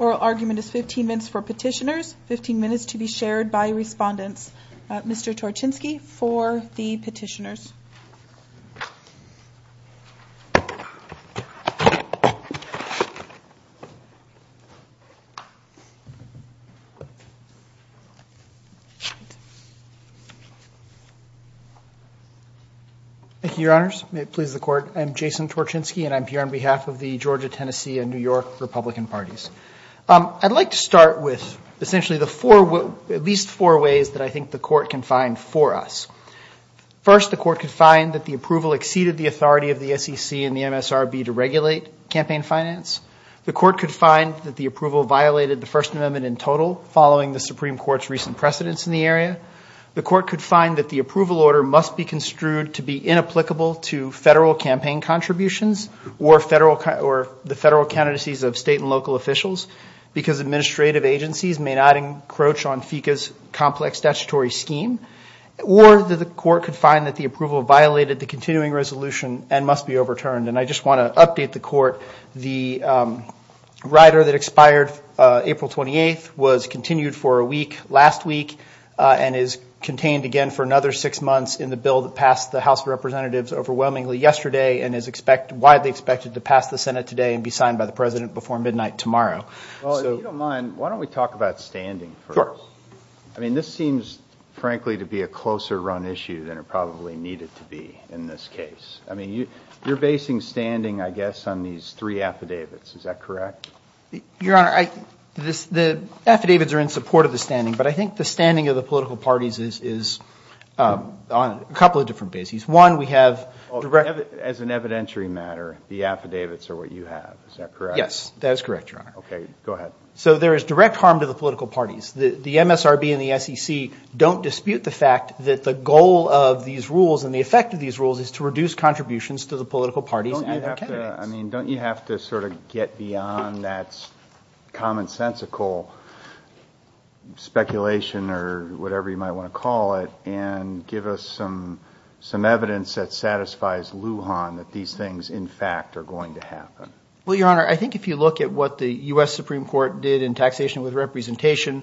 Oral argument is 15 minutes for petitioners, 15 minutes to be shared by respondents. Mr. Torczynski for the petitioners. Thank you, Your Honors. May it please the Court. I'm Jason Torczynski and I'm here on behalf of the Georgia, Tennessee, and New York Republican Parties. I'd like to start with essentially at least four ways that I think the Court can find for us. First, the Court could find that the approval exceeded the authority of the SEC and the MSRB to regulate campaign finance. The Court could find that the approval violated the First Amendment in total following the Supreme Court's recent precedence in the area. The Court could find that the approval order must be construed to be inapplicable to federal campaign contributions or the federal candidacies of state and local officials because administrative agencies may not encroach on FECA's complex statutory scheme. Or the Court could find that the approval violated the continuing resolution and must be overturned. And I just want to update the Court. The rider that expired April 28th was continued for a week last week and is contained again for another six months in the bill that passed the House of Representatives overwhelmingly yesterday and is widely expected to pass the Senate today and be signed by the President before midnight tomorrow. Well, if you don't mind, why don't we talk about standing first? Sure. I mean, this seems, frankly, to be a closer-run issue than it probably needed to be in this case. I mean, you're basing standing, I guess, on these three affidavits. Is that correct? Your Honor, the affidavits are in support of the standing, but I think the standing of the political parties is on a couple of different bases. One, we have direct – As an evidentiary matter, the affidavits are what you have. Is that correct? Yes, that is correct, Your Honor. Okay, go ahead. So there is direct harm to the political parties. The MSRB and the SEC don't dispute the fact that the goal of these rules and the effect of these rules is to reduce contributions to the political parties and their candidates. Don't you have to sort of get beyond that commonsensical speculation or whatever you might want to call it and give us some evidence that satisfies Lujan that these things, in fact, are going to happen? Well, Your Honor, I think if you look at what the U.S. Supreme Court did in taxation with representation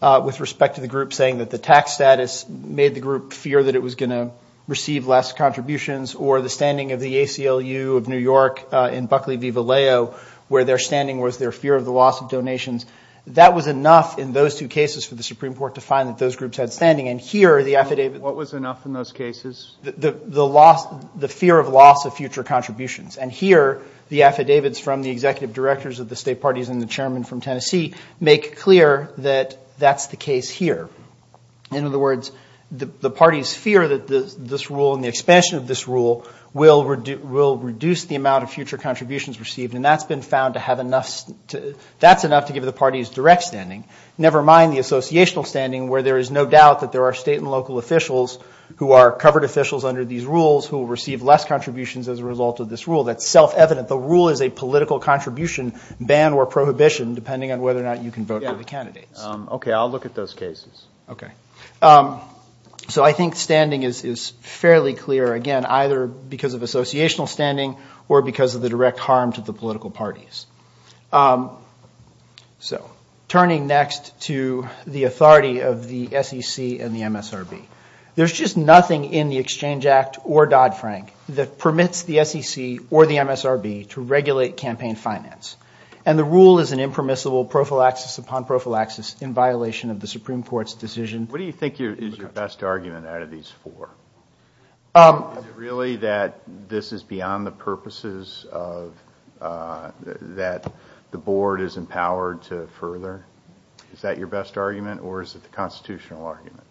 with respect to the group saying that the tax status made the group fear that it was going to receive less contributions or the standing of the ACLU of New York in Buckley v. Vallejo where their standing was their fear of the loss of donations, that was enough in those two cases for the Supreme Court to find that those groups had standing. And here, the affidavit – What was enough in those cases? The fear of loss of future contributions. And here, the affidavits from the executive directors of the state parties and the chairman from Tennessee make clear that that's the case here. In other words, the parties fear that this rule and the expansion of this rule will reduce the amount of future contributions received, and that's been found to have enough – that's enough to give the parties direct standing, never mind the associational standing where there is no doubt that there are state and local officials who are covered officials under these rules who will receive less contributions as a result of this rule. That's self-evident. The rule is a political contribution, ban or prohibition, depending on whether or not you can vote for the candidates. Okay, I'll look at those cases. Okay. So I think standing is fairly clear, again, either because of associational standing or because of the direct harm to the political parties. So turning next to the authority of the SEC and the MSRB. There's just nothing in the Exchange Act or Dodd-Frank that permits the SEC or the MSRB to regulate campaign finance. And the rule is an impermissible prophylaxis upon prophylaxis in violation of the Supreme Court's decision. What do you think is your best argument out of these four? Is it really that this is beyond the purposes that the Board is empowered to further? Is that your best argument or is it the constitutional argument?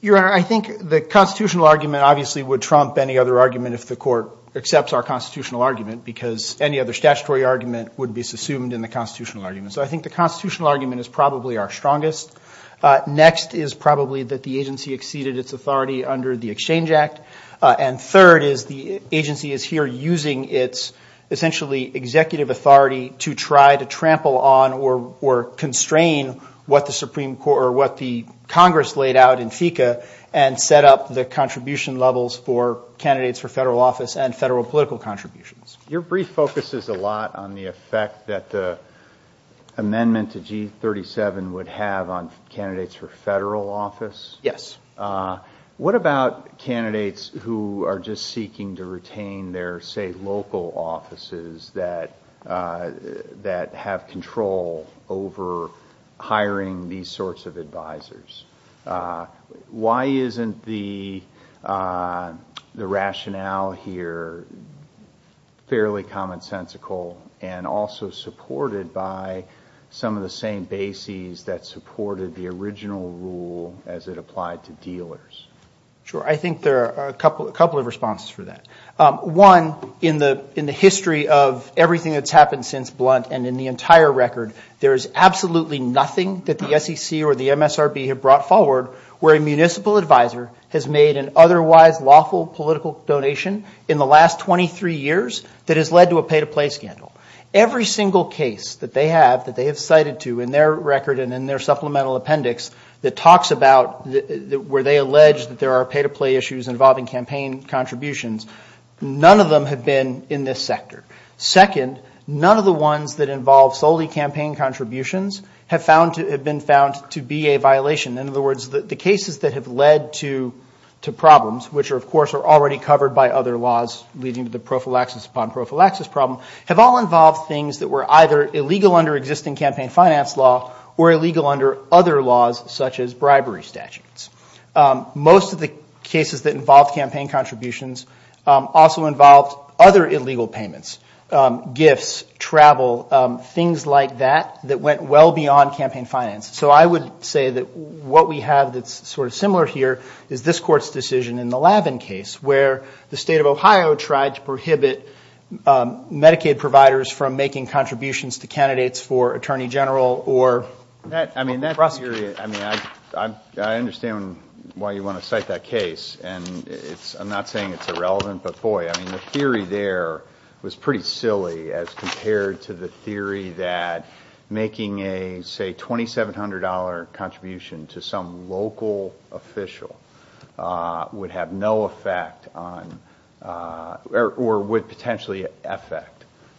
Your Honor, I think the constitutional argument obviously would trump any other argument if the Court accepts our constitutional argument because any other statutory argument would be assumed in the constitutional argument. So I think the constitutional argument is probably our strongest. Next is probably that the agency exceeded its authority under the Exchange Act. And third is the agency is here using its essentially executive authority to try to trample on or constrain what the Congress laid out in FECA and set up the contribution levels for candidates for federal office and federal political contributions. Your brief focuses a lot on the effect that the amendment to G37 would have on candidates for federal office. Yes. What about candidates who are just seeking to retain their, say, local offices Why isn't the rationale here fairly commonsensical and also supported by some of the same bases that supported the original rule as it applied to dealers? Sure. I think there are a couple of responses for that. One, in the history of everything that's happened since Blunt and in the entire record, there is absolutely nothing that the SEC or the MSRB have brought forward where a municipal advisor has made an otherwise lawful political donation in the last 23 years that has led to a pay-to-play scandal. Every single case that they have, that they have cited to in their record and in their supplemental appendix that talks about where they allege that there are pay-to-play issues involving campaign contributions, none of them have been in this sector. Second, none of the ones that involve solely campaign contributions have been found to be a violation. In other words, the cases that have led to problems, which of course are already covered by other laws leading to the prophylaxis upon prophylaxis problem, have all involved things that were either illegal under existing campaign finance law or illegal under other laws such as bribery statutes. Most of the cases that involved campaign contributions also involved other illegal payments, gifts, travel, things like that that went well beyond campaign finance. So I would say that what we have that's sort of similar here is this court's decision in the Lavin case where the state of Ohio tried to prohibit Medicaid providers from making contributions to candidates for attorney general or prosecutor. I mean, I understand why you want to cite that case. I'm not saying it's irrelevant, but boy, I mean, the theory there was pretty silly as compared to the theory that making a, say, $2,700 contribution to some local official would have no effect on or would potentially affect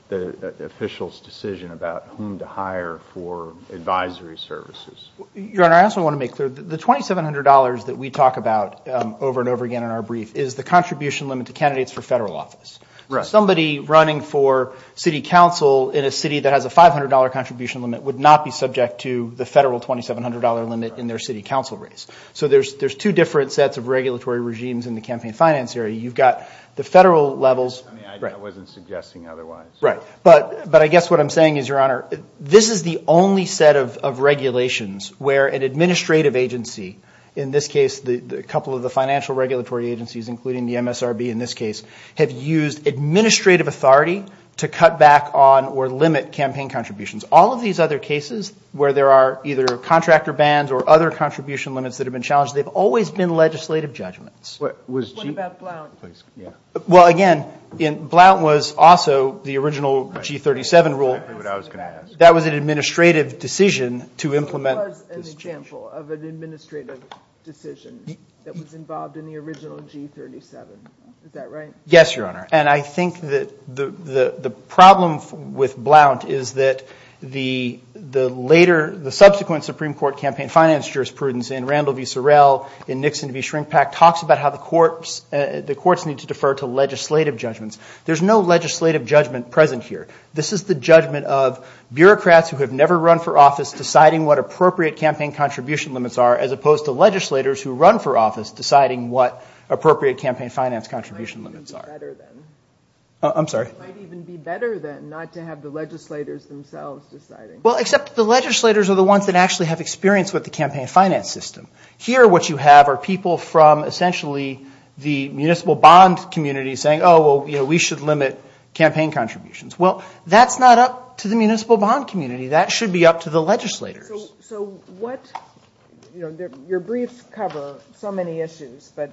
the official's decision about whom to hire for advisory services. Your Honor, I also want to make clear, the $2,700 that we talk about over and over again in our brief is the contribution limit to candidates for federal office. Somebody running for city council in a city that has a $500 contribution limit would not be subject to the federal $2,700 limit in their city council race. So there's two different sets of regulatory regimes in the campaign finance area. You've got the federal levels. I mean, I wasn't suggesting otherwise. Right, but I guess what I'm saying is, Your Honor, this is the only set of regulations where an administrative agency, in this case a couple of the financial regulatory agencies, including the MSRB in this case, have used administrative authority to cut back on or limit campaign contributions. All of these other cases where there are either contractor bans or other contribution limits that have been challenged, they've always been legislative judgments. What about Blount? Well, again, Blount was also the original G37 rule. Exactly what I was going to ask. That was an administrative decision to implement this change. It was an example of an administrative decision that was involved in the original G37. Is that right? Yes, Your Honor, and I think that the problem with Blount is that the subsequent Supreme Court campaign finance jurisprudence in Randall v. Sorrell, in Nixon v. Shrinkpack, talks about how the courts need to defer to legislative judgments. There's no legislative judgment present here. This is the judgment of bureaucrats who have never run for office deciding what appropriate campaign contribution limits are as opposed to legislators who run for office deciding what appropriate campaign finance contribution limits are. It might even be better, then. I'm sorry? It might even be better, then, not to have the legislators themselves deciding. Well, except the legislators are the ones that actually have experience with the campaign finance system. Here what you have are people from essentially the municipal bond community saying, oh, well, we should limit campaign contributions. Well, that's not up to the municipal bond community. That should be up to the legislators. So what – your briefs cover so many issues, but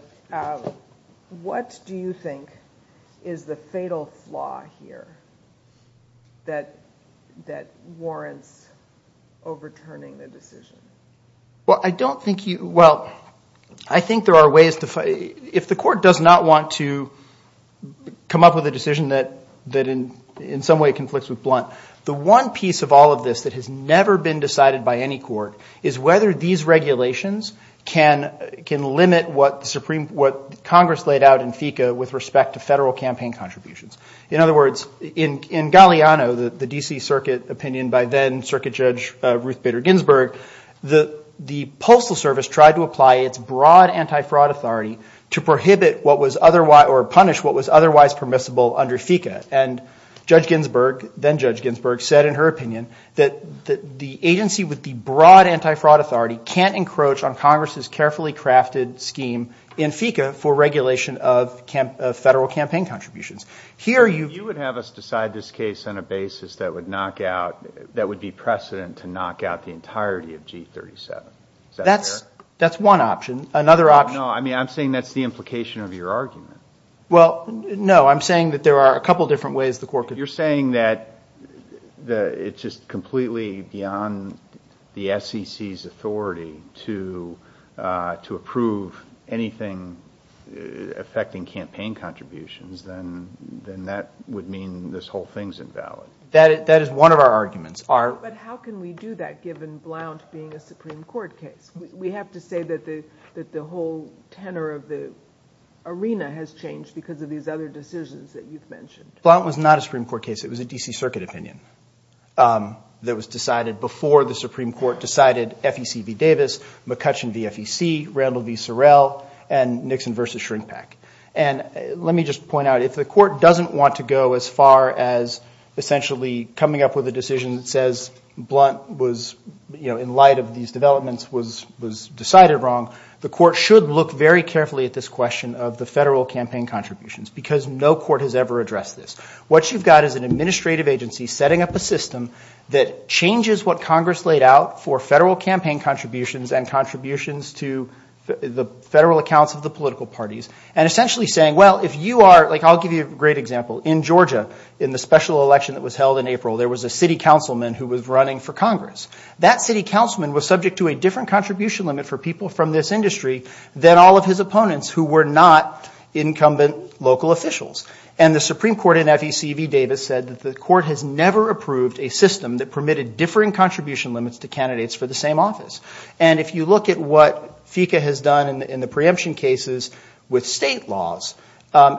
what do you think is the fatal flaw here that warrants overturning the decision? Well, I don't think you – well, I think there are ways to – if the court does not want to come up with a decision that in some way conflicts with Blunt, the one piece of all of this that has never been decided by any court is whether these regulations can limit what Congress laid out in FECA with respect to federal campaign contributions. In other words, in Galliano, the D.C. Circuit opinion by then Circuit Judge Ruth Bader Ginsburg, the Postal Service tried to apply its broad anti-fraud authority to prohibit what was – or punish what was otherwise permissible under FECA. And Judge Ginsburg, then Judge Ginsburg, said in her opinion that the agency with the broad anti-fraud authority can't encroach on Congress's carefully crafted scheme in FECA for regulation of federal campaign contributions. Here you – You would have us decide this case on a basis that would knock out – that would be precedent to knock out the entirety of G37. Is that fair? That's one option. Another option – No, I mean, I'm saying that's the implication of your argument. Well, no, I'm saying that there are a couple different ways the court could – You're saying that it's just completely beyond the SEC's authority to approve anything affecting campaign contributions, then that would mean this whole thing's invalid. That is one of our arguments. But how can we do that given Blunt being a Supreme Court case? We have to say that the whole tenor of the arena has changed because of these other decisions that you've mentioned. Blunt was not a Supreme Court case. It was a D.C. Circuit opinion that was decided before the Supreme Court decided FEC v. Davis, McCutcheon v. FEC, Randall v. Sorrell, and Nixon v. Shrinkback. And let me just point out, if the court doesn't want to go as far as essentially coming up with a decision that says Blunt was – was decided wrong, the court should look very carefully at this question of the federal campaign contributions because no court has ever addressed this. What you've got is an administrative agency setting up a system that changes what Congress laid out for federal campaign contributions and contributions to the federal accounts of the political parties and essentially saying, well, if you are – like I'll give you a great example. In Georgia, in the special election that was held in April, there was a city councilman who was running for Congress. That city councilman was subject to a different contribution limit for people from this industry than all of his opponents who were not incumbent local officials. And the Supreme Court in FEC v. Davis said that the court has never approved a system that permitted differing contribution limits to candidates for the same office. And if you look at what FECA has done in the preemption cases with state laws,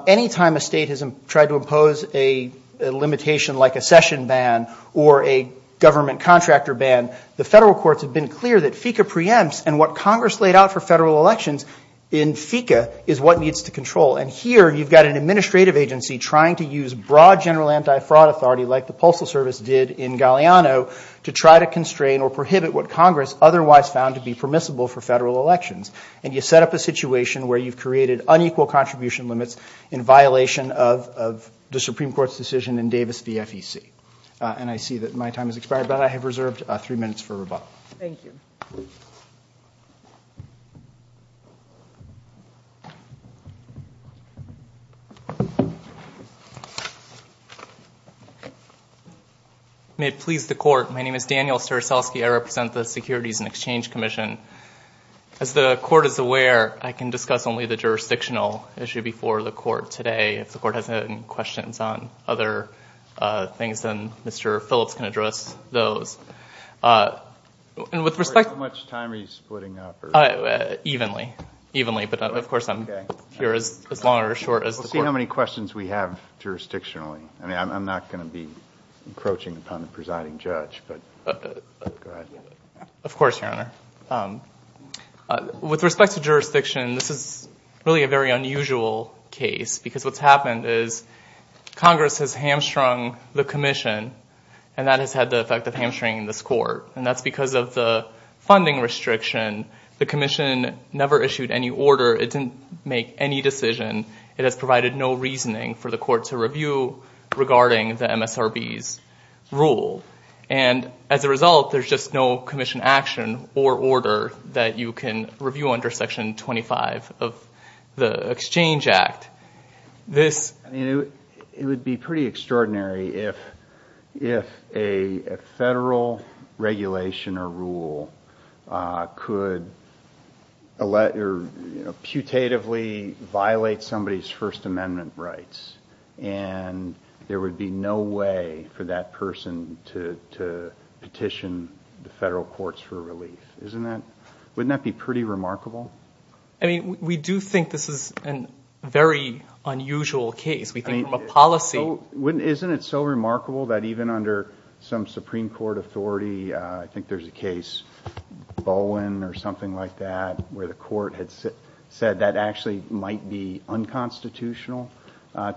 any time a state has tried to impose a limitation like a session ban or a government contractor ban, the federal courts have been clear that FECA preempts and what Congress laid out for federal elections in FECA is what needs to control. And here you've got an administrative agency trying to use broad general anti-fraud authority like the Postal Service did in Galeano to try to constrain or prohibit what Congress otherwise found to be permissible for federal elections. And you set up a situation where you've created unequal contribution limits in violation of the Supreme Court's decision in Davis v. FEC. And I see that my time has expired, but I have reserved three minutes for rebuttal. Thank you. May it please the court, my name is Daniel Straselski. I represent the Securities and Exchange Commission. As the court is aware, I can discuss only the jurisdictional issue before the court today. If the court has any questions on other things, then Mr. Phillips can address those. How much time are you splitting up? Evenly, but of course I'm here as long or as short as the court. We'll see how many questions we have jurisdictionally. I'm not going to be encroaching upon the presiding judge, but go ahead. Of course, Your Honor. With respect to jurisdiction, this is really a very unusual case because what's happened is Congress has hamstrung the commission, and that has had the effect of hamstringing this court. And that's because of the funding restriction. The commission never issued any order. It didn't make any decision. It has provided no reasoning for the court to review regarding the MSRB's rule. And as a result, there's just no commission action or order that you can review under Section 25 of the Exchange Act. It would be pretty extraordinary if a federal regulation or rule could putatively violate somebody's First Amendment rights, and there would be no way for that person to petition the federal courts for relief. Wouldn't that be pretty remarkable? I mean, we do think this is a very unusual case. We think from a policy. Isn't it so remarkable that even under some Supreme Court authority, I think there's a case, Bowen or something like that, where the court had said that actually might be unconstitutional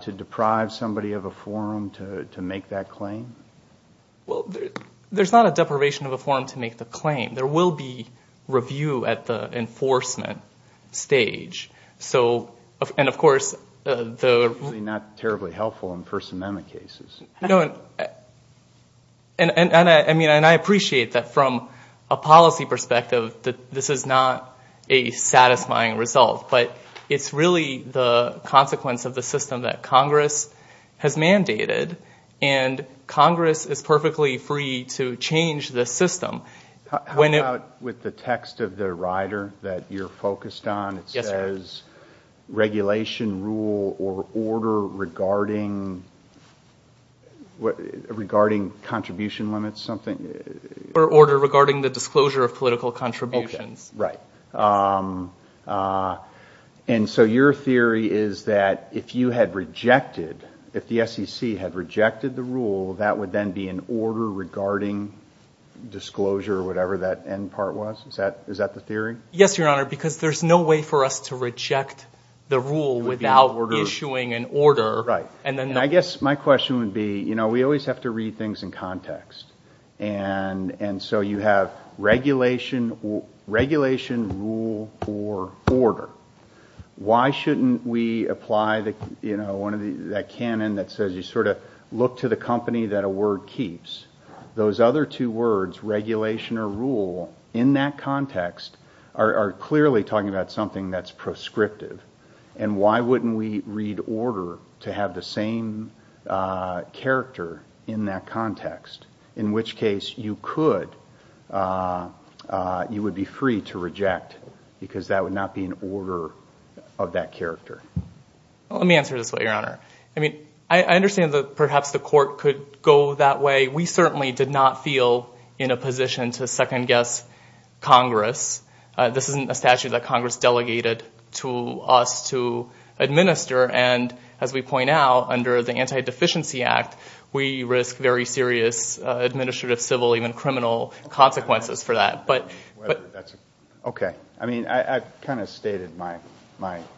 to deprive somebody of a forum to make that claim? There will be review at the enforcement stage. And, of course, the... It's not terribly helpful in First Amendment cases. And I appreciate that from a policy perspective, this is not a satisfying result, but it's really the consequence of the system that Congress has mandated, and Congress is perfectly free to change the system. How about with the text of the rider that you're focused on? It says, regulation rule or order regarding contribution limits, something? Or order regarding the disclosure of political contributions. Right. And so your theory is that if you had rejected, if the SEC had rejected the rule, that would then be an order regarding disclosure, whatever that end part was? Is that the theory? Yes, Your Honor, because there's no way for us to reject the rule without issuing an order. Right. And I guess my question would be, you know, we always have to read things in context. And so you have regulation rule or order. Why shouldn't we apply, you know, that canon that says you sort of look to the company that a word keeps? Those other two words, regulation or rule, in that context are clearly talking about something that's prescriptive. And why wouldn't we read order to have the same character in that context? In which case you could, you would be free to reject, because that would not be an order of that character. Let me answer this way, Your Honor. I mean, I understand that perhaps the court could go that way. We certainly did not feel in a position to second-guess Congress. This isn't a statute that Congress delegated to us to administer. And as we point out, under the Anti-Deficiency Act, we risk very serious administrative, civil, even criminal consequences for that. Okay. I mean, I've kind of stated my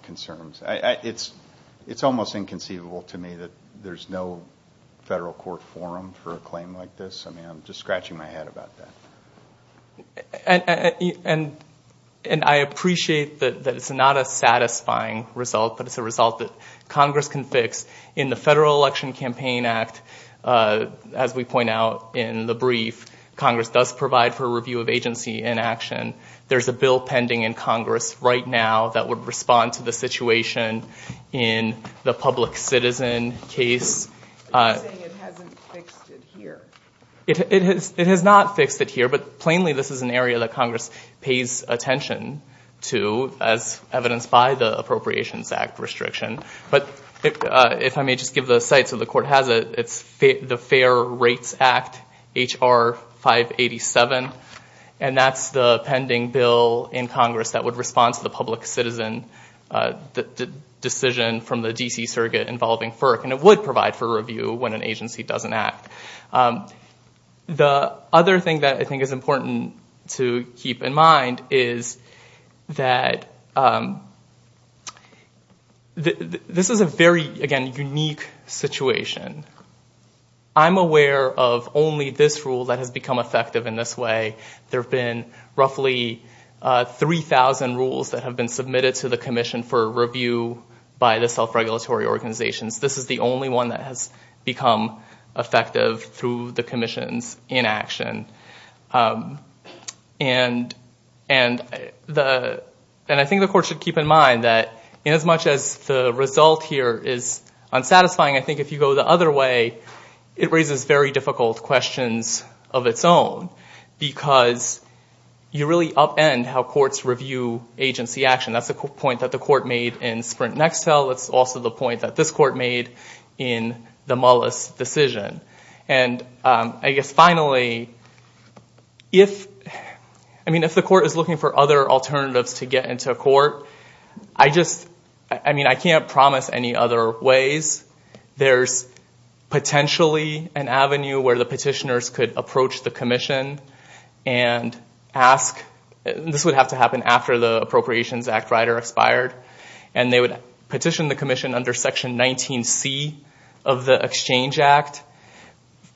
concerns. It's almost inconceivable to me that there's no federal court forum for a claim like this. I mean, I'm just scratching my head about that. And I appreciate that it's not a satisfying result, but it's a result that Congress can fix. In the Federal Election Campaign Act, as we point out in the brief, Congress does provide for a review of agency inaction. There's a bill pending in Congress right now that would respond to the situation in the public citizen case. You're saying it hasn't fixed it here. It has not fixed it here, but plainly this is an area that Congress pays attention to, as evidenced by the Appropriations Act restriction. But if I may just give the site so the court has it, it's the Fair Rates Act, H.R. 587, and that's the pending bill in Congress that would respond to the public citizen decision from the D.C. surrogate involving FERC, and it would provide for review when an agency doesn't act. The other thing that I think is important to keep in mind is that this is a very, again, unique situation. I'm aware of only this rule that has become effective in this way. There have been roughly 3,000 rules that have been submitted to the Commission for review by the self-regulatory organizations. This is the only one that has become effective through the Commission's inaction. And I think the court should keep in mind that as much as the result here is unsatisfying, I think if you go the other way, it raises very difficult questions of its own because you really upend how courts review agency action. That's the point that the court made in Sprint Nextel. It's also the point that this court made in the Mullis decision. And I guess finally, if the court is looking for other alternatives to get into a court, I can't promise any other ways. There's potentially an avenue where the petitioners could approach the Commission and ask. This would have to happen after the Appropriations Act Rider expired. And they would petition the Commission under Section 19C of the Exchange Act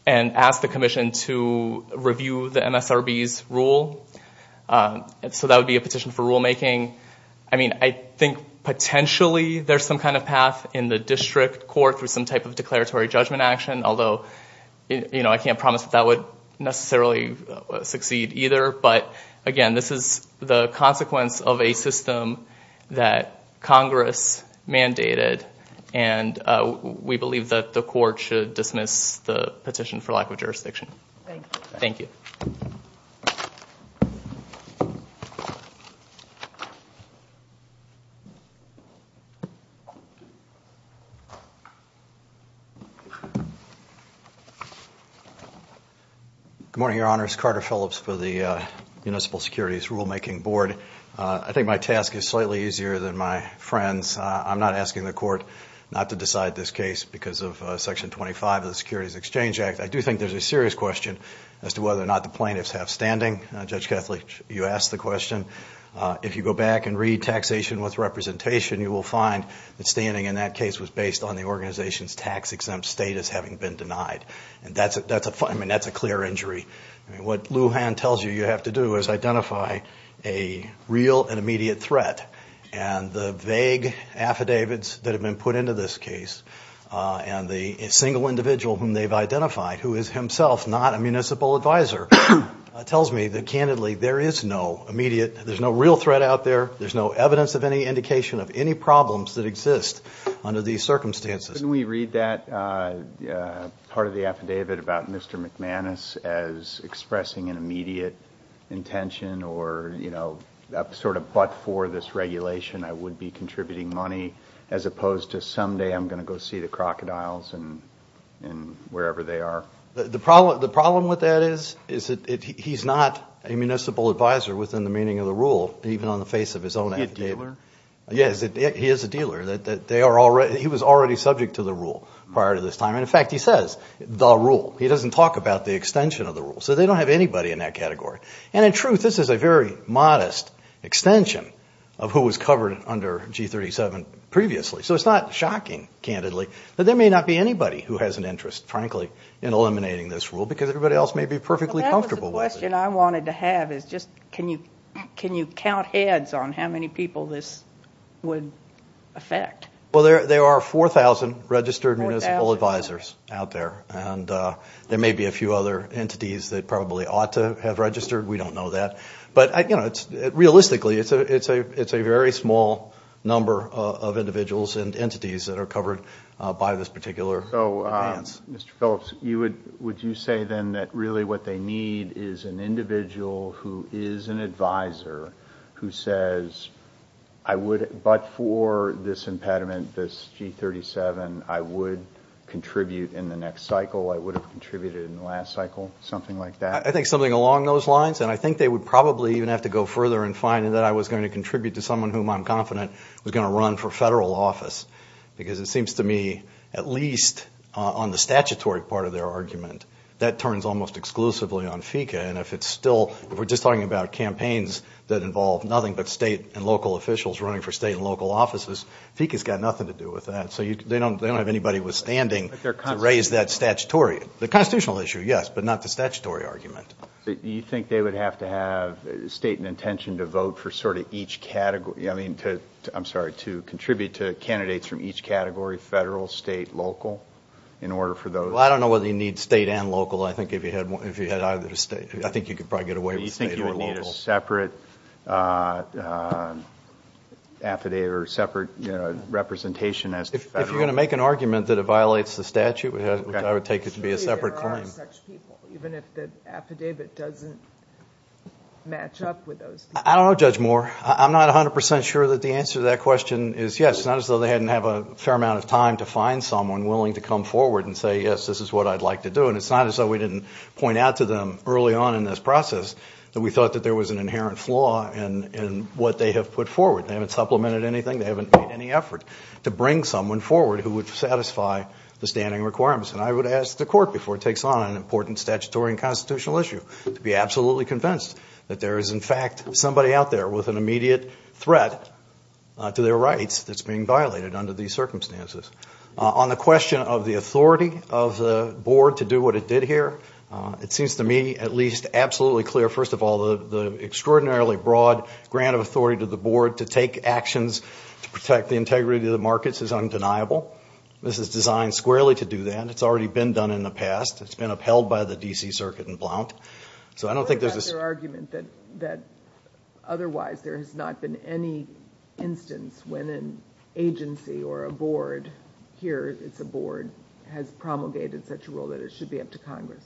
and ask the Commission to review the MSRB's rule. So that would be a petition for rulemaking. I mean, I think potentially there's some kind of path in the district court through some type of declaratory judgment action, although I can't promise that that would necessarily succeed either. But again, this is the consequence of a system that Congress mandated, and we believe that the court should dismiss the petition for lack of jurisdiction. Thank you. Good morning, Your Honors. Carter Phillips for the Municipal Securities Rulemaking Board. I think my task is slightly easier than my friends'. I'm not asking the court not to decide this case because of Section 25 of the Securities Exchange Act. I do think there's a serious question as to whether or not the plaintiffs have standing. Judge Kethley, you asked the question. If you go back and read Taxation with Representation, you will find that standing in that case was based on the organization's tax-exempt status having been denied. And that's a clear injury. What Lujan tells you you have to do is identify a real and immediate threat. And the vague affidavits that have been put into this case and the single individual whom they've identified, who is himself not a municipal advisor, tells me that, candidly, there is no immediate, there's no real threat out there, there's no evidence of any indication of any problems that exist under these circumstances. Couldn't we read that part of the affidavit about Mr. McManus as expressing an immediate intention or, you know, sort of but for this regulation, I would be contributing money, as opposed to someday I'm going to go see the crocodiles and wherever they are? The problem with that is that he's not a municipal advisor within the meaning of the rule, even on the face of his own affidavit. Is he a dealer? Yes, he is a dealer. He was already subject to the rule prior to this time. And, in fact, he says, the rule. He doesn't talk about the extension of the rule. So they don't have anybody in that category. And, in truth, this is a very modest extension of who was covered under G37 previously. So it's not shocking, candidly, that there may not be anybody who has an interest, frankly, in eliminating this rule because everybody else may be perfectly comfortable with it. The question I wanted to have is just can you count heads on how many people this would affect? Well, there are 4,000 registered municipal advisors out there. And there may be a few other entities that probably ought to have registered. We don't know that. But, you know, realistically, it's a very small number of individuals and entities that are covered by this particular advance. So, Mr. Phillips, would you say then that really what they need is an individual who is an advisor who says, but for this impediment, this G37, I would contribute in the next cycle, I would have contributed in the last cycle, something like that? I think something along those lines. And I think they would probably even have to go further and find that I was going to contribute to someone whom I'm confident was going to run for federal office because it seems to me, at least on the statutory part of their argument, that turns almost exclusively on FECA. And if it's still, if we're just talking about campaigns that involve nothing but state and local officials running for state and local offices, FECA's got nothing to do with that. So they don't have anybody withstanding to raise that statutory, the constitutional issue, yes, but not the statutory argument. Do you think they would have to have state and intention to vote for sort of each category, I mean, I'm sorry, to contribute to candidates from each category, federal, state, local, in order for those? Well, I don't know whether you need state and local, I think if you had either state, I think you could probably get away with state or local. Do you think you would need a separate affidavit or separate representation as to federal? If you're going to make an argument that it violates the statute, I would take it to be a separate claim. Surely there are such people, even if the affidavit doesn't match up with those people. I don't know, Judge Moore. I'm not 100% sure that the answer to that question is yes, not as though they hadn't had a fair amount of time to find someone willing to come forward and say, yes, this is what I'd like to do. And it's not as though we didn't point out to them early on in this process that we thought that there was an inherent flaw in what they have put forward. They haven't supplemented anything. They haven't made any effort to bring someone forward who would satisfy the standing requirements. And I would ask the court before it takes on an important statutory and constitutional issue to be absolutely convinced that there is, in fact, somebody out there with an immediate threat to their rights that's being violated under these circumstances. On the question of the authority of the board to do what it did here, it seems to me at least absolutely clear, first of all, the extraordinarily broad grant of authority to the board to take actions to protect the integrity of the markets is undeniable. This is designed squarely to do that. It's already been done in the past. It's been upheld by the D.C. Circuit in Blount. So I don't think there's a... What about their argument that otherwise there has not been any instance when an agency or a board, here it's a board, has promulgated such a rule that it should be up to Congress?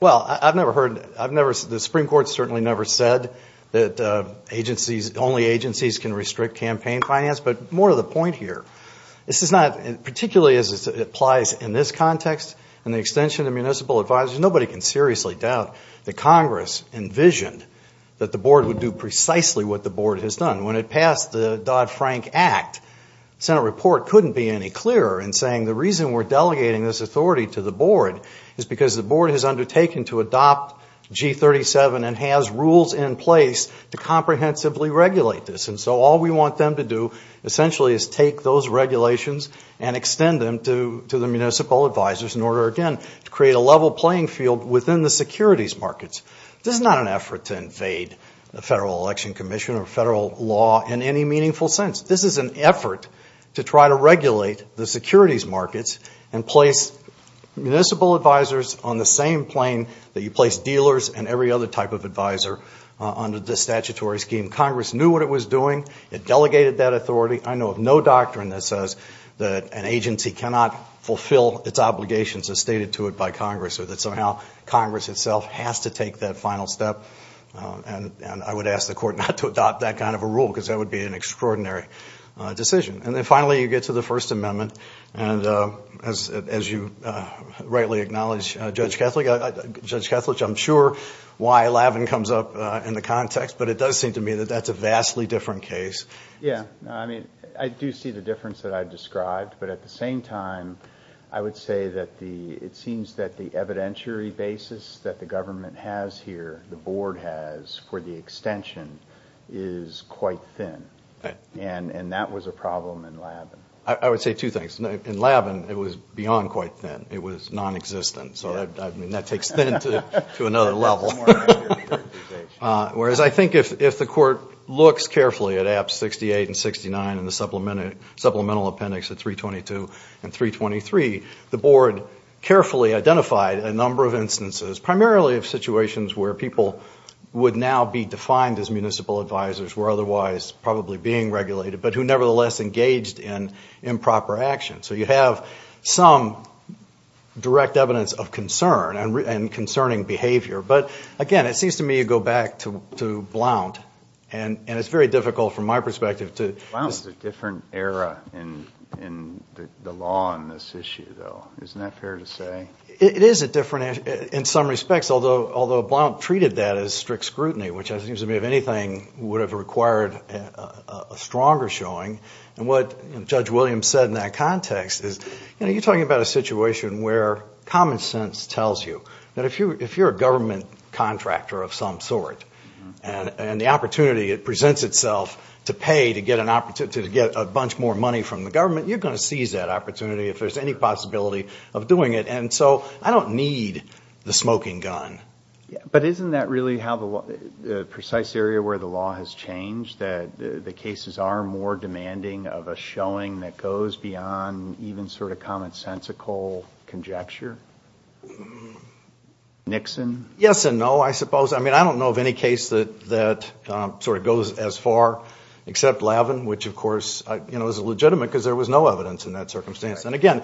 Well, I've never heard... The Supreme Court certainly never said that only agencies can restrict campaign finance, but more to the point here. This is not... Particularly as it applies in this context in the extension of municipal advisory, nobody can seriously doubt that Congress envisioned that the board would do precisely what the board has done. When it passed the Dodd-Frank Act, the Senate report couldn't be any clearer in saying the reason we're delegating this authority to the board is because the board has undertaken to adopt G37 and has rules in place to comprehensively regulate this. And so all we want them to do, essentially, is take those regulations and extend them to the municipal advisors in order, again, to create a level playing field within the securities markets. This is not an effort to invade the Federal Election Commission or federal law in any meaningful sense. This is an effort to try to regulate the securities markets and place municipal advisors on the same plane that you place dealers and every other type of advisor under this statutory scheme. Congress knew what it was doing. It delegated that authority. I know of no doctrine that says that an agency cannot fulfill its obligations as stated to it by Congress or that somehow Congress itself has to take that final step. And I would ask the court not to adopt that kind of a rule because that would be an extraordinary decision. And then, finally, you get to the First Amendment, and as you rightly acknowledge, Judge Kethledge, I'm sure why Lavin comes up in the context, but it does seem to me that that's a vastly different case. Yeah, I mean, I do see the difference that I've described, but at the same time, I would say that it seems that the evidentiary basis that the government has here, the board has for the extension, is quite thin. And that was a problem in Lavin. I would say two things. In Lavin, it was beyond quite thin. It was nonexistent. So, I mean, that takes thin to another level. Whereas I think if the court looks carefully at Apps 68 and 69 and the supplemental appendix at 322 and 323, the board carefully identified a number of instances, primarily of situations where people would now be defined as municipal advisors, who were otherwise probably being regulated, but who nevertheless engaged in improper action. So you have some direct evidence of concern and concerning behavior. But, again, it seems to me you go back to Blount, and it's very difficult from my perspective to... Blount is a different era in the law on this issue, though. Isn't that fair to say? It is a different era in some respects, although Blount treated that as strict scrutiny, which, it seems to me, if anything would have required a stronger showing. And what Judge Williams said in that context is, you know, you're talking about a situation where common sense tells you that if you're a government contractor of some sort and the opportunity presents itself to pay, to get a bunch more money from the government, you're going to seize that opportunity if there's any possibility of doing it. And so I don't need the smoking gun. But isn't that really the precise area where the law has changed, that the cases are more demanding of a showing that goes beyond even sort of commonsensical conjecture? Nixon? Yes and no, I suppose. I mean, I don't know of any case that sort of goes as far except Lavin, which, of course, is legitimate because there was no evidence in that circumstance. And again,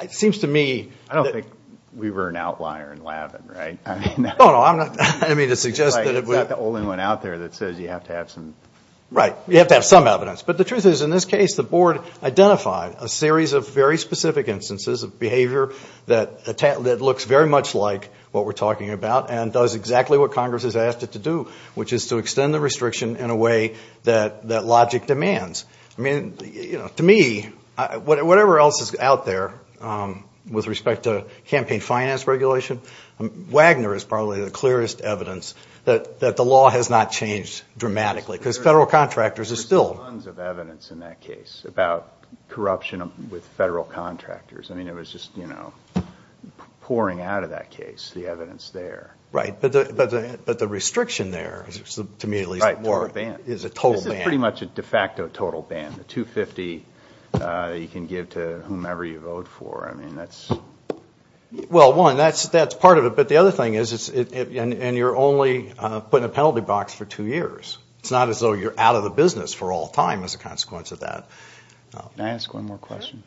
it seems to me... I don't think we were an outlier in Lavin, right? No, no, I mean to suggest that it was... Right, it's not the only one out there that says you have to have some... Right, you have to have some evidence. But the truth is, in this case, the Board identified a series of very specific instances of behavior that looks very much like what we're talking about and does exactly what Congress has asked it to do, which is to extend the restriction in a way that logic demands. I mean, you know, to me, whatever else is out there with respect to campaign finance regulation, Wagner is probably the clearest evidence that the law has not changed dramatically because federal contractors are still... There's tons of evidence in that case about corruption with federal contractors. I mean, it was just, you know, pouring out of that case, the evidence there. Right, but the restriction there, to me at least, is a total ban. It's pretty much a de facto total ban, a $250 that you can give to whomever you vote for. I mean, that's... Well, one, that's part of it, but the other thing is, and you're only putting a penalty box for two years. It's not as though you're out of the business for all time as a consequence of that. Can I ask one more question?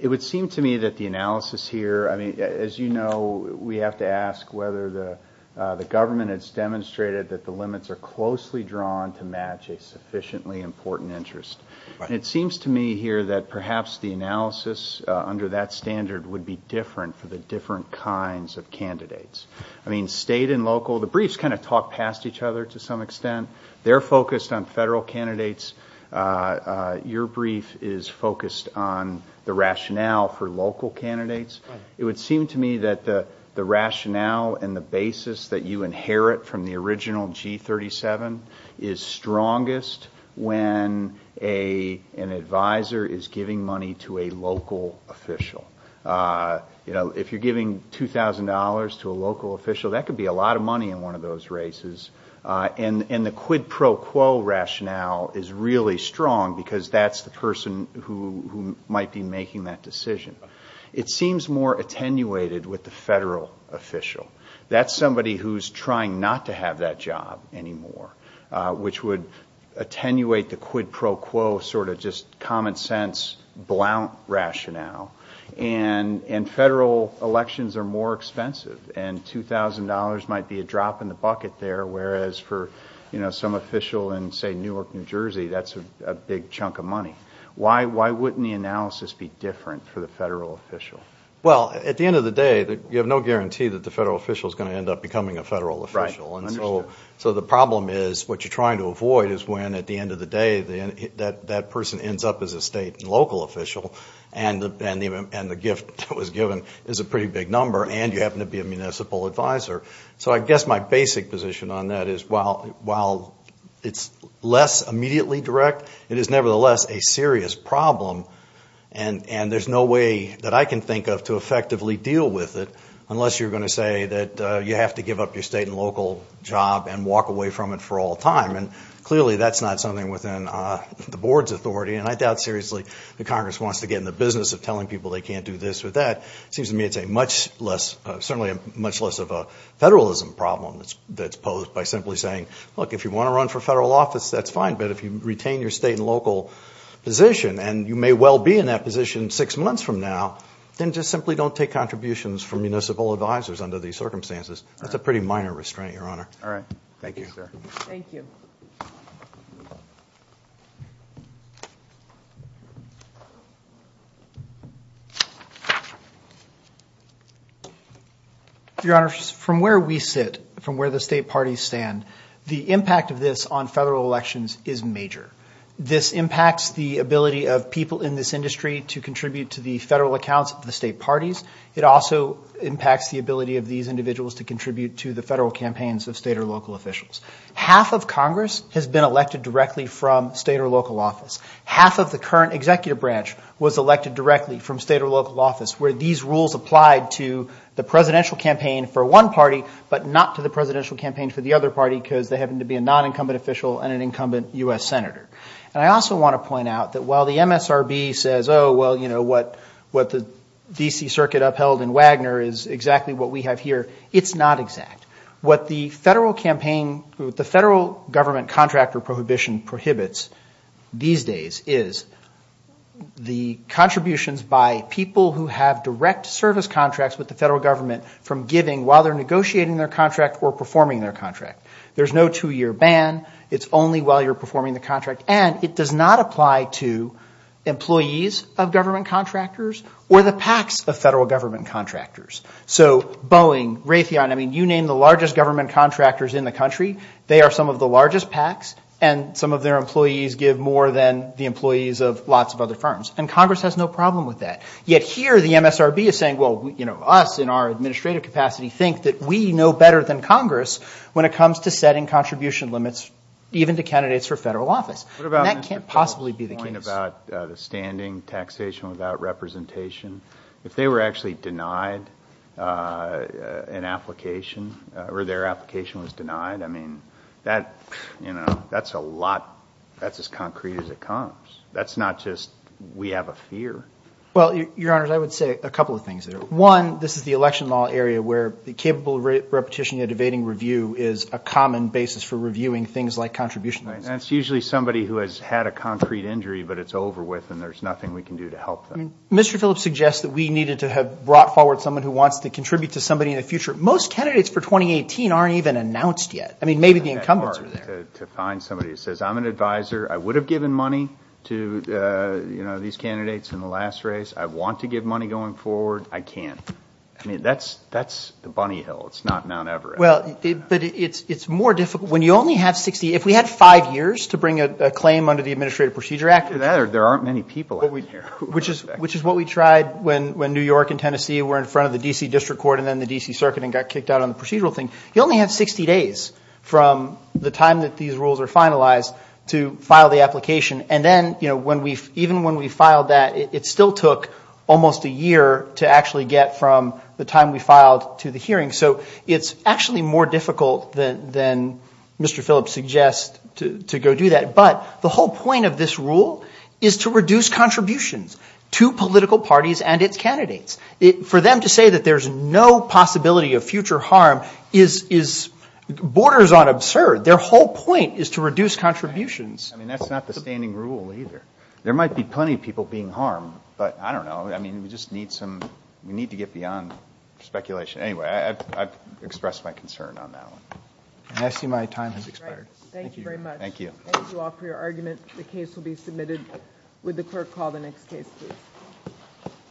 It would seem to me that the analysis here, I mean, as you know, we have to ask whether the government has demonstrated that the limits are closely drawn to match a sufficiently important interest. And it seems to me here that perhaps the analysis under that standard would be different for the different kinds of candidates. I mean, state and local, the briefs kind of talk past each other to some extent. They're focused on federal candidates. Your brief is focused on the rationale for local candidates. It would seem to me that the rationale and the basis that you inherit from the original G37 is strongest when an advisor is giving money to a local official. You know, if you're giving $2,000 to a local official, that could be a lot of money in one of those races. And the quid pro quo rationale is really strong because that's the person who might be making that decision. It seems more attenuated with the federal official. That's somebody who's trying not to have that job anymore, which would attenuate the quid pro quo sort of just common sense, blount rationale. And federal elections are more expensive, and $2,000 might be a drop in the bucket there, whereas for some official in, say, Newark, New Jersey, that's a big chunk of money. Why wouldn't the analysis be different for the federal official? Well, at the end of the day, you have no guarantee that the federal official is going to end up becoming a federal official. So the problem is what you're trying to avoid is when at the end of the day that person ends up as a state and local official, and the gift that was given is a pretty big number, and you happen to be a municipal advisor. So I guess my basic position on that is while it's less immediately direct, it is nevertheless a serious problem, and there's no way that I can think of to effectively deal with it unless you're going to say that you have to give up your state and local job and walk away from it for all time. And clearly that's not something within the board's authority, and I doubt seriously that Congress wants to get in the business of telling people they can't do this or that. It seems to me it's certainly much less of a federalism problem that's posed by simply saying, look, if you want to run for federal office, that's fine, but if you retain your state and local position, and you may well be in that position six months from now, then just simply don't take contributions from municipal advisors under these circumstances. That's a pretty minor restraint, Your Honor. All right. Thank you, sir. Thank you. Your Honor, from where we sit, from where the state parties stand, the impact of this on federal elections is major. This impacts the ability of people in this industry to contribute to the federal accounts of the state parties. It also impacts the ability of these individuals to contribute to the federal campaigns of state or local officials. Half of Congress has been elected directly from state or local office. Half of the current executive branch was elected directly from state or local office, where these rules applied to the presidential campaign for one party, but not to the presidential campaign for the other party, because they happen to be a non-incumbent official and an incumbent U.S. senator. And I also want to point out that while the MSRB says, oh, well, you know, what the D.C. Circuit upheld in Wagner is exactly what we have here, it's not exact. What the federal government contract or prohibition prohibits these days is the contributions by people who have direct service contracts with the federal government from giving while they're negotiating their contract or performing their contract. There's no two-year ban. It's only while you're performing the contract. And it does not apply to employees of government contractors or the PACs of federal government contractors. So Boeing, Raytheon, I mean, you name the largest government contractors in the country, they are some of the largest PACs, and some of their employees give more than the employees of lots of other firms. And Congress has no problem with that. Yet here the MSRB is saying, well, you know, some of us in our administrative capacity think that we know better than Congress when it comes to setting contribution limits even to candidates for federal office. And that can't possibly be the case. What about the standing taxation without representation? If they were actually denied an application or their application was denied, I mean, that, you know, that's a lot, that's as concrete as it comes. That's not just we have a fear. Well, Your Honors, I would say a couple of things. One, this is the election law area where the capable repetition of debating review is a common basis for reviewing things like contribution. That's usually somebody who has had a concrete injury, but it's over with, and there's nothing we can do to help them. Mr. Phillips suggests that we needed to have brought forward someone who wants to contribute to somebody in the future. Most candidates for 2018 aren't even announced yet. I mean, maybe the incumbents are there. To find somebody who says, I'm an advisor, I would have given money to, you know, these candidates in the last race. I want to give money going forward. I can't. I mean, that's the bunny hill. It's not Mount Everest. Well, but it's more difficult. When you only have 60, if we had five years to bring a claim under the Administrative Procedure Act, there aren't many people out there. Which is what we tried when New York and Tennessee were in front of the D.C. District Court and then the D.C. Circuit and got kicked out on the procedural thing. You only have 60 days from the time that these rules are finalized to file the application. And then, you know, even when we filed that, it still took almost a year to actually get from the time we filed to the hearing. So it's actually more difficult than Mr. Phillips suggests to go do that. But the whole point of this rule is to reduce contributions to political parties and its candidates. For them to say that there's no possibility of future harm borders on absurd. Their whole point is to reduce contributions. I mean, that's not the standing rule either. There might be plenty of people being harmed, but I don't know. I mean, we just need to get beyond speculation. Anyway, I've expressed my concern on that one. And I see my time has expired. Thank you very much. Thank you. Thank you all for your argument. Would the clerk call the next case, please?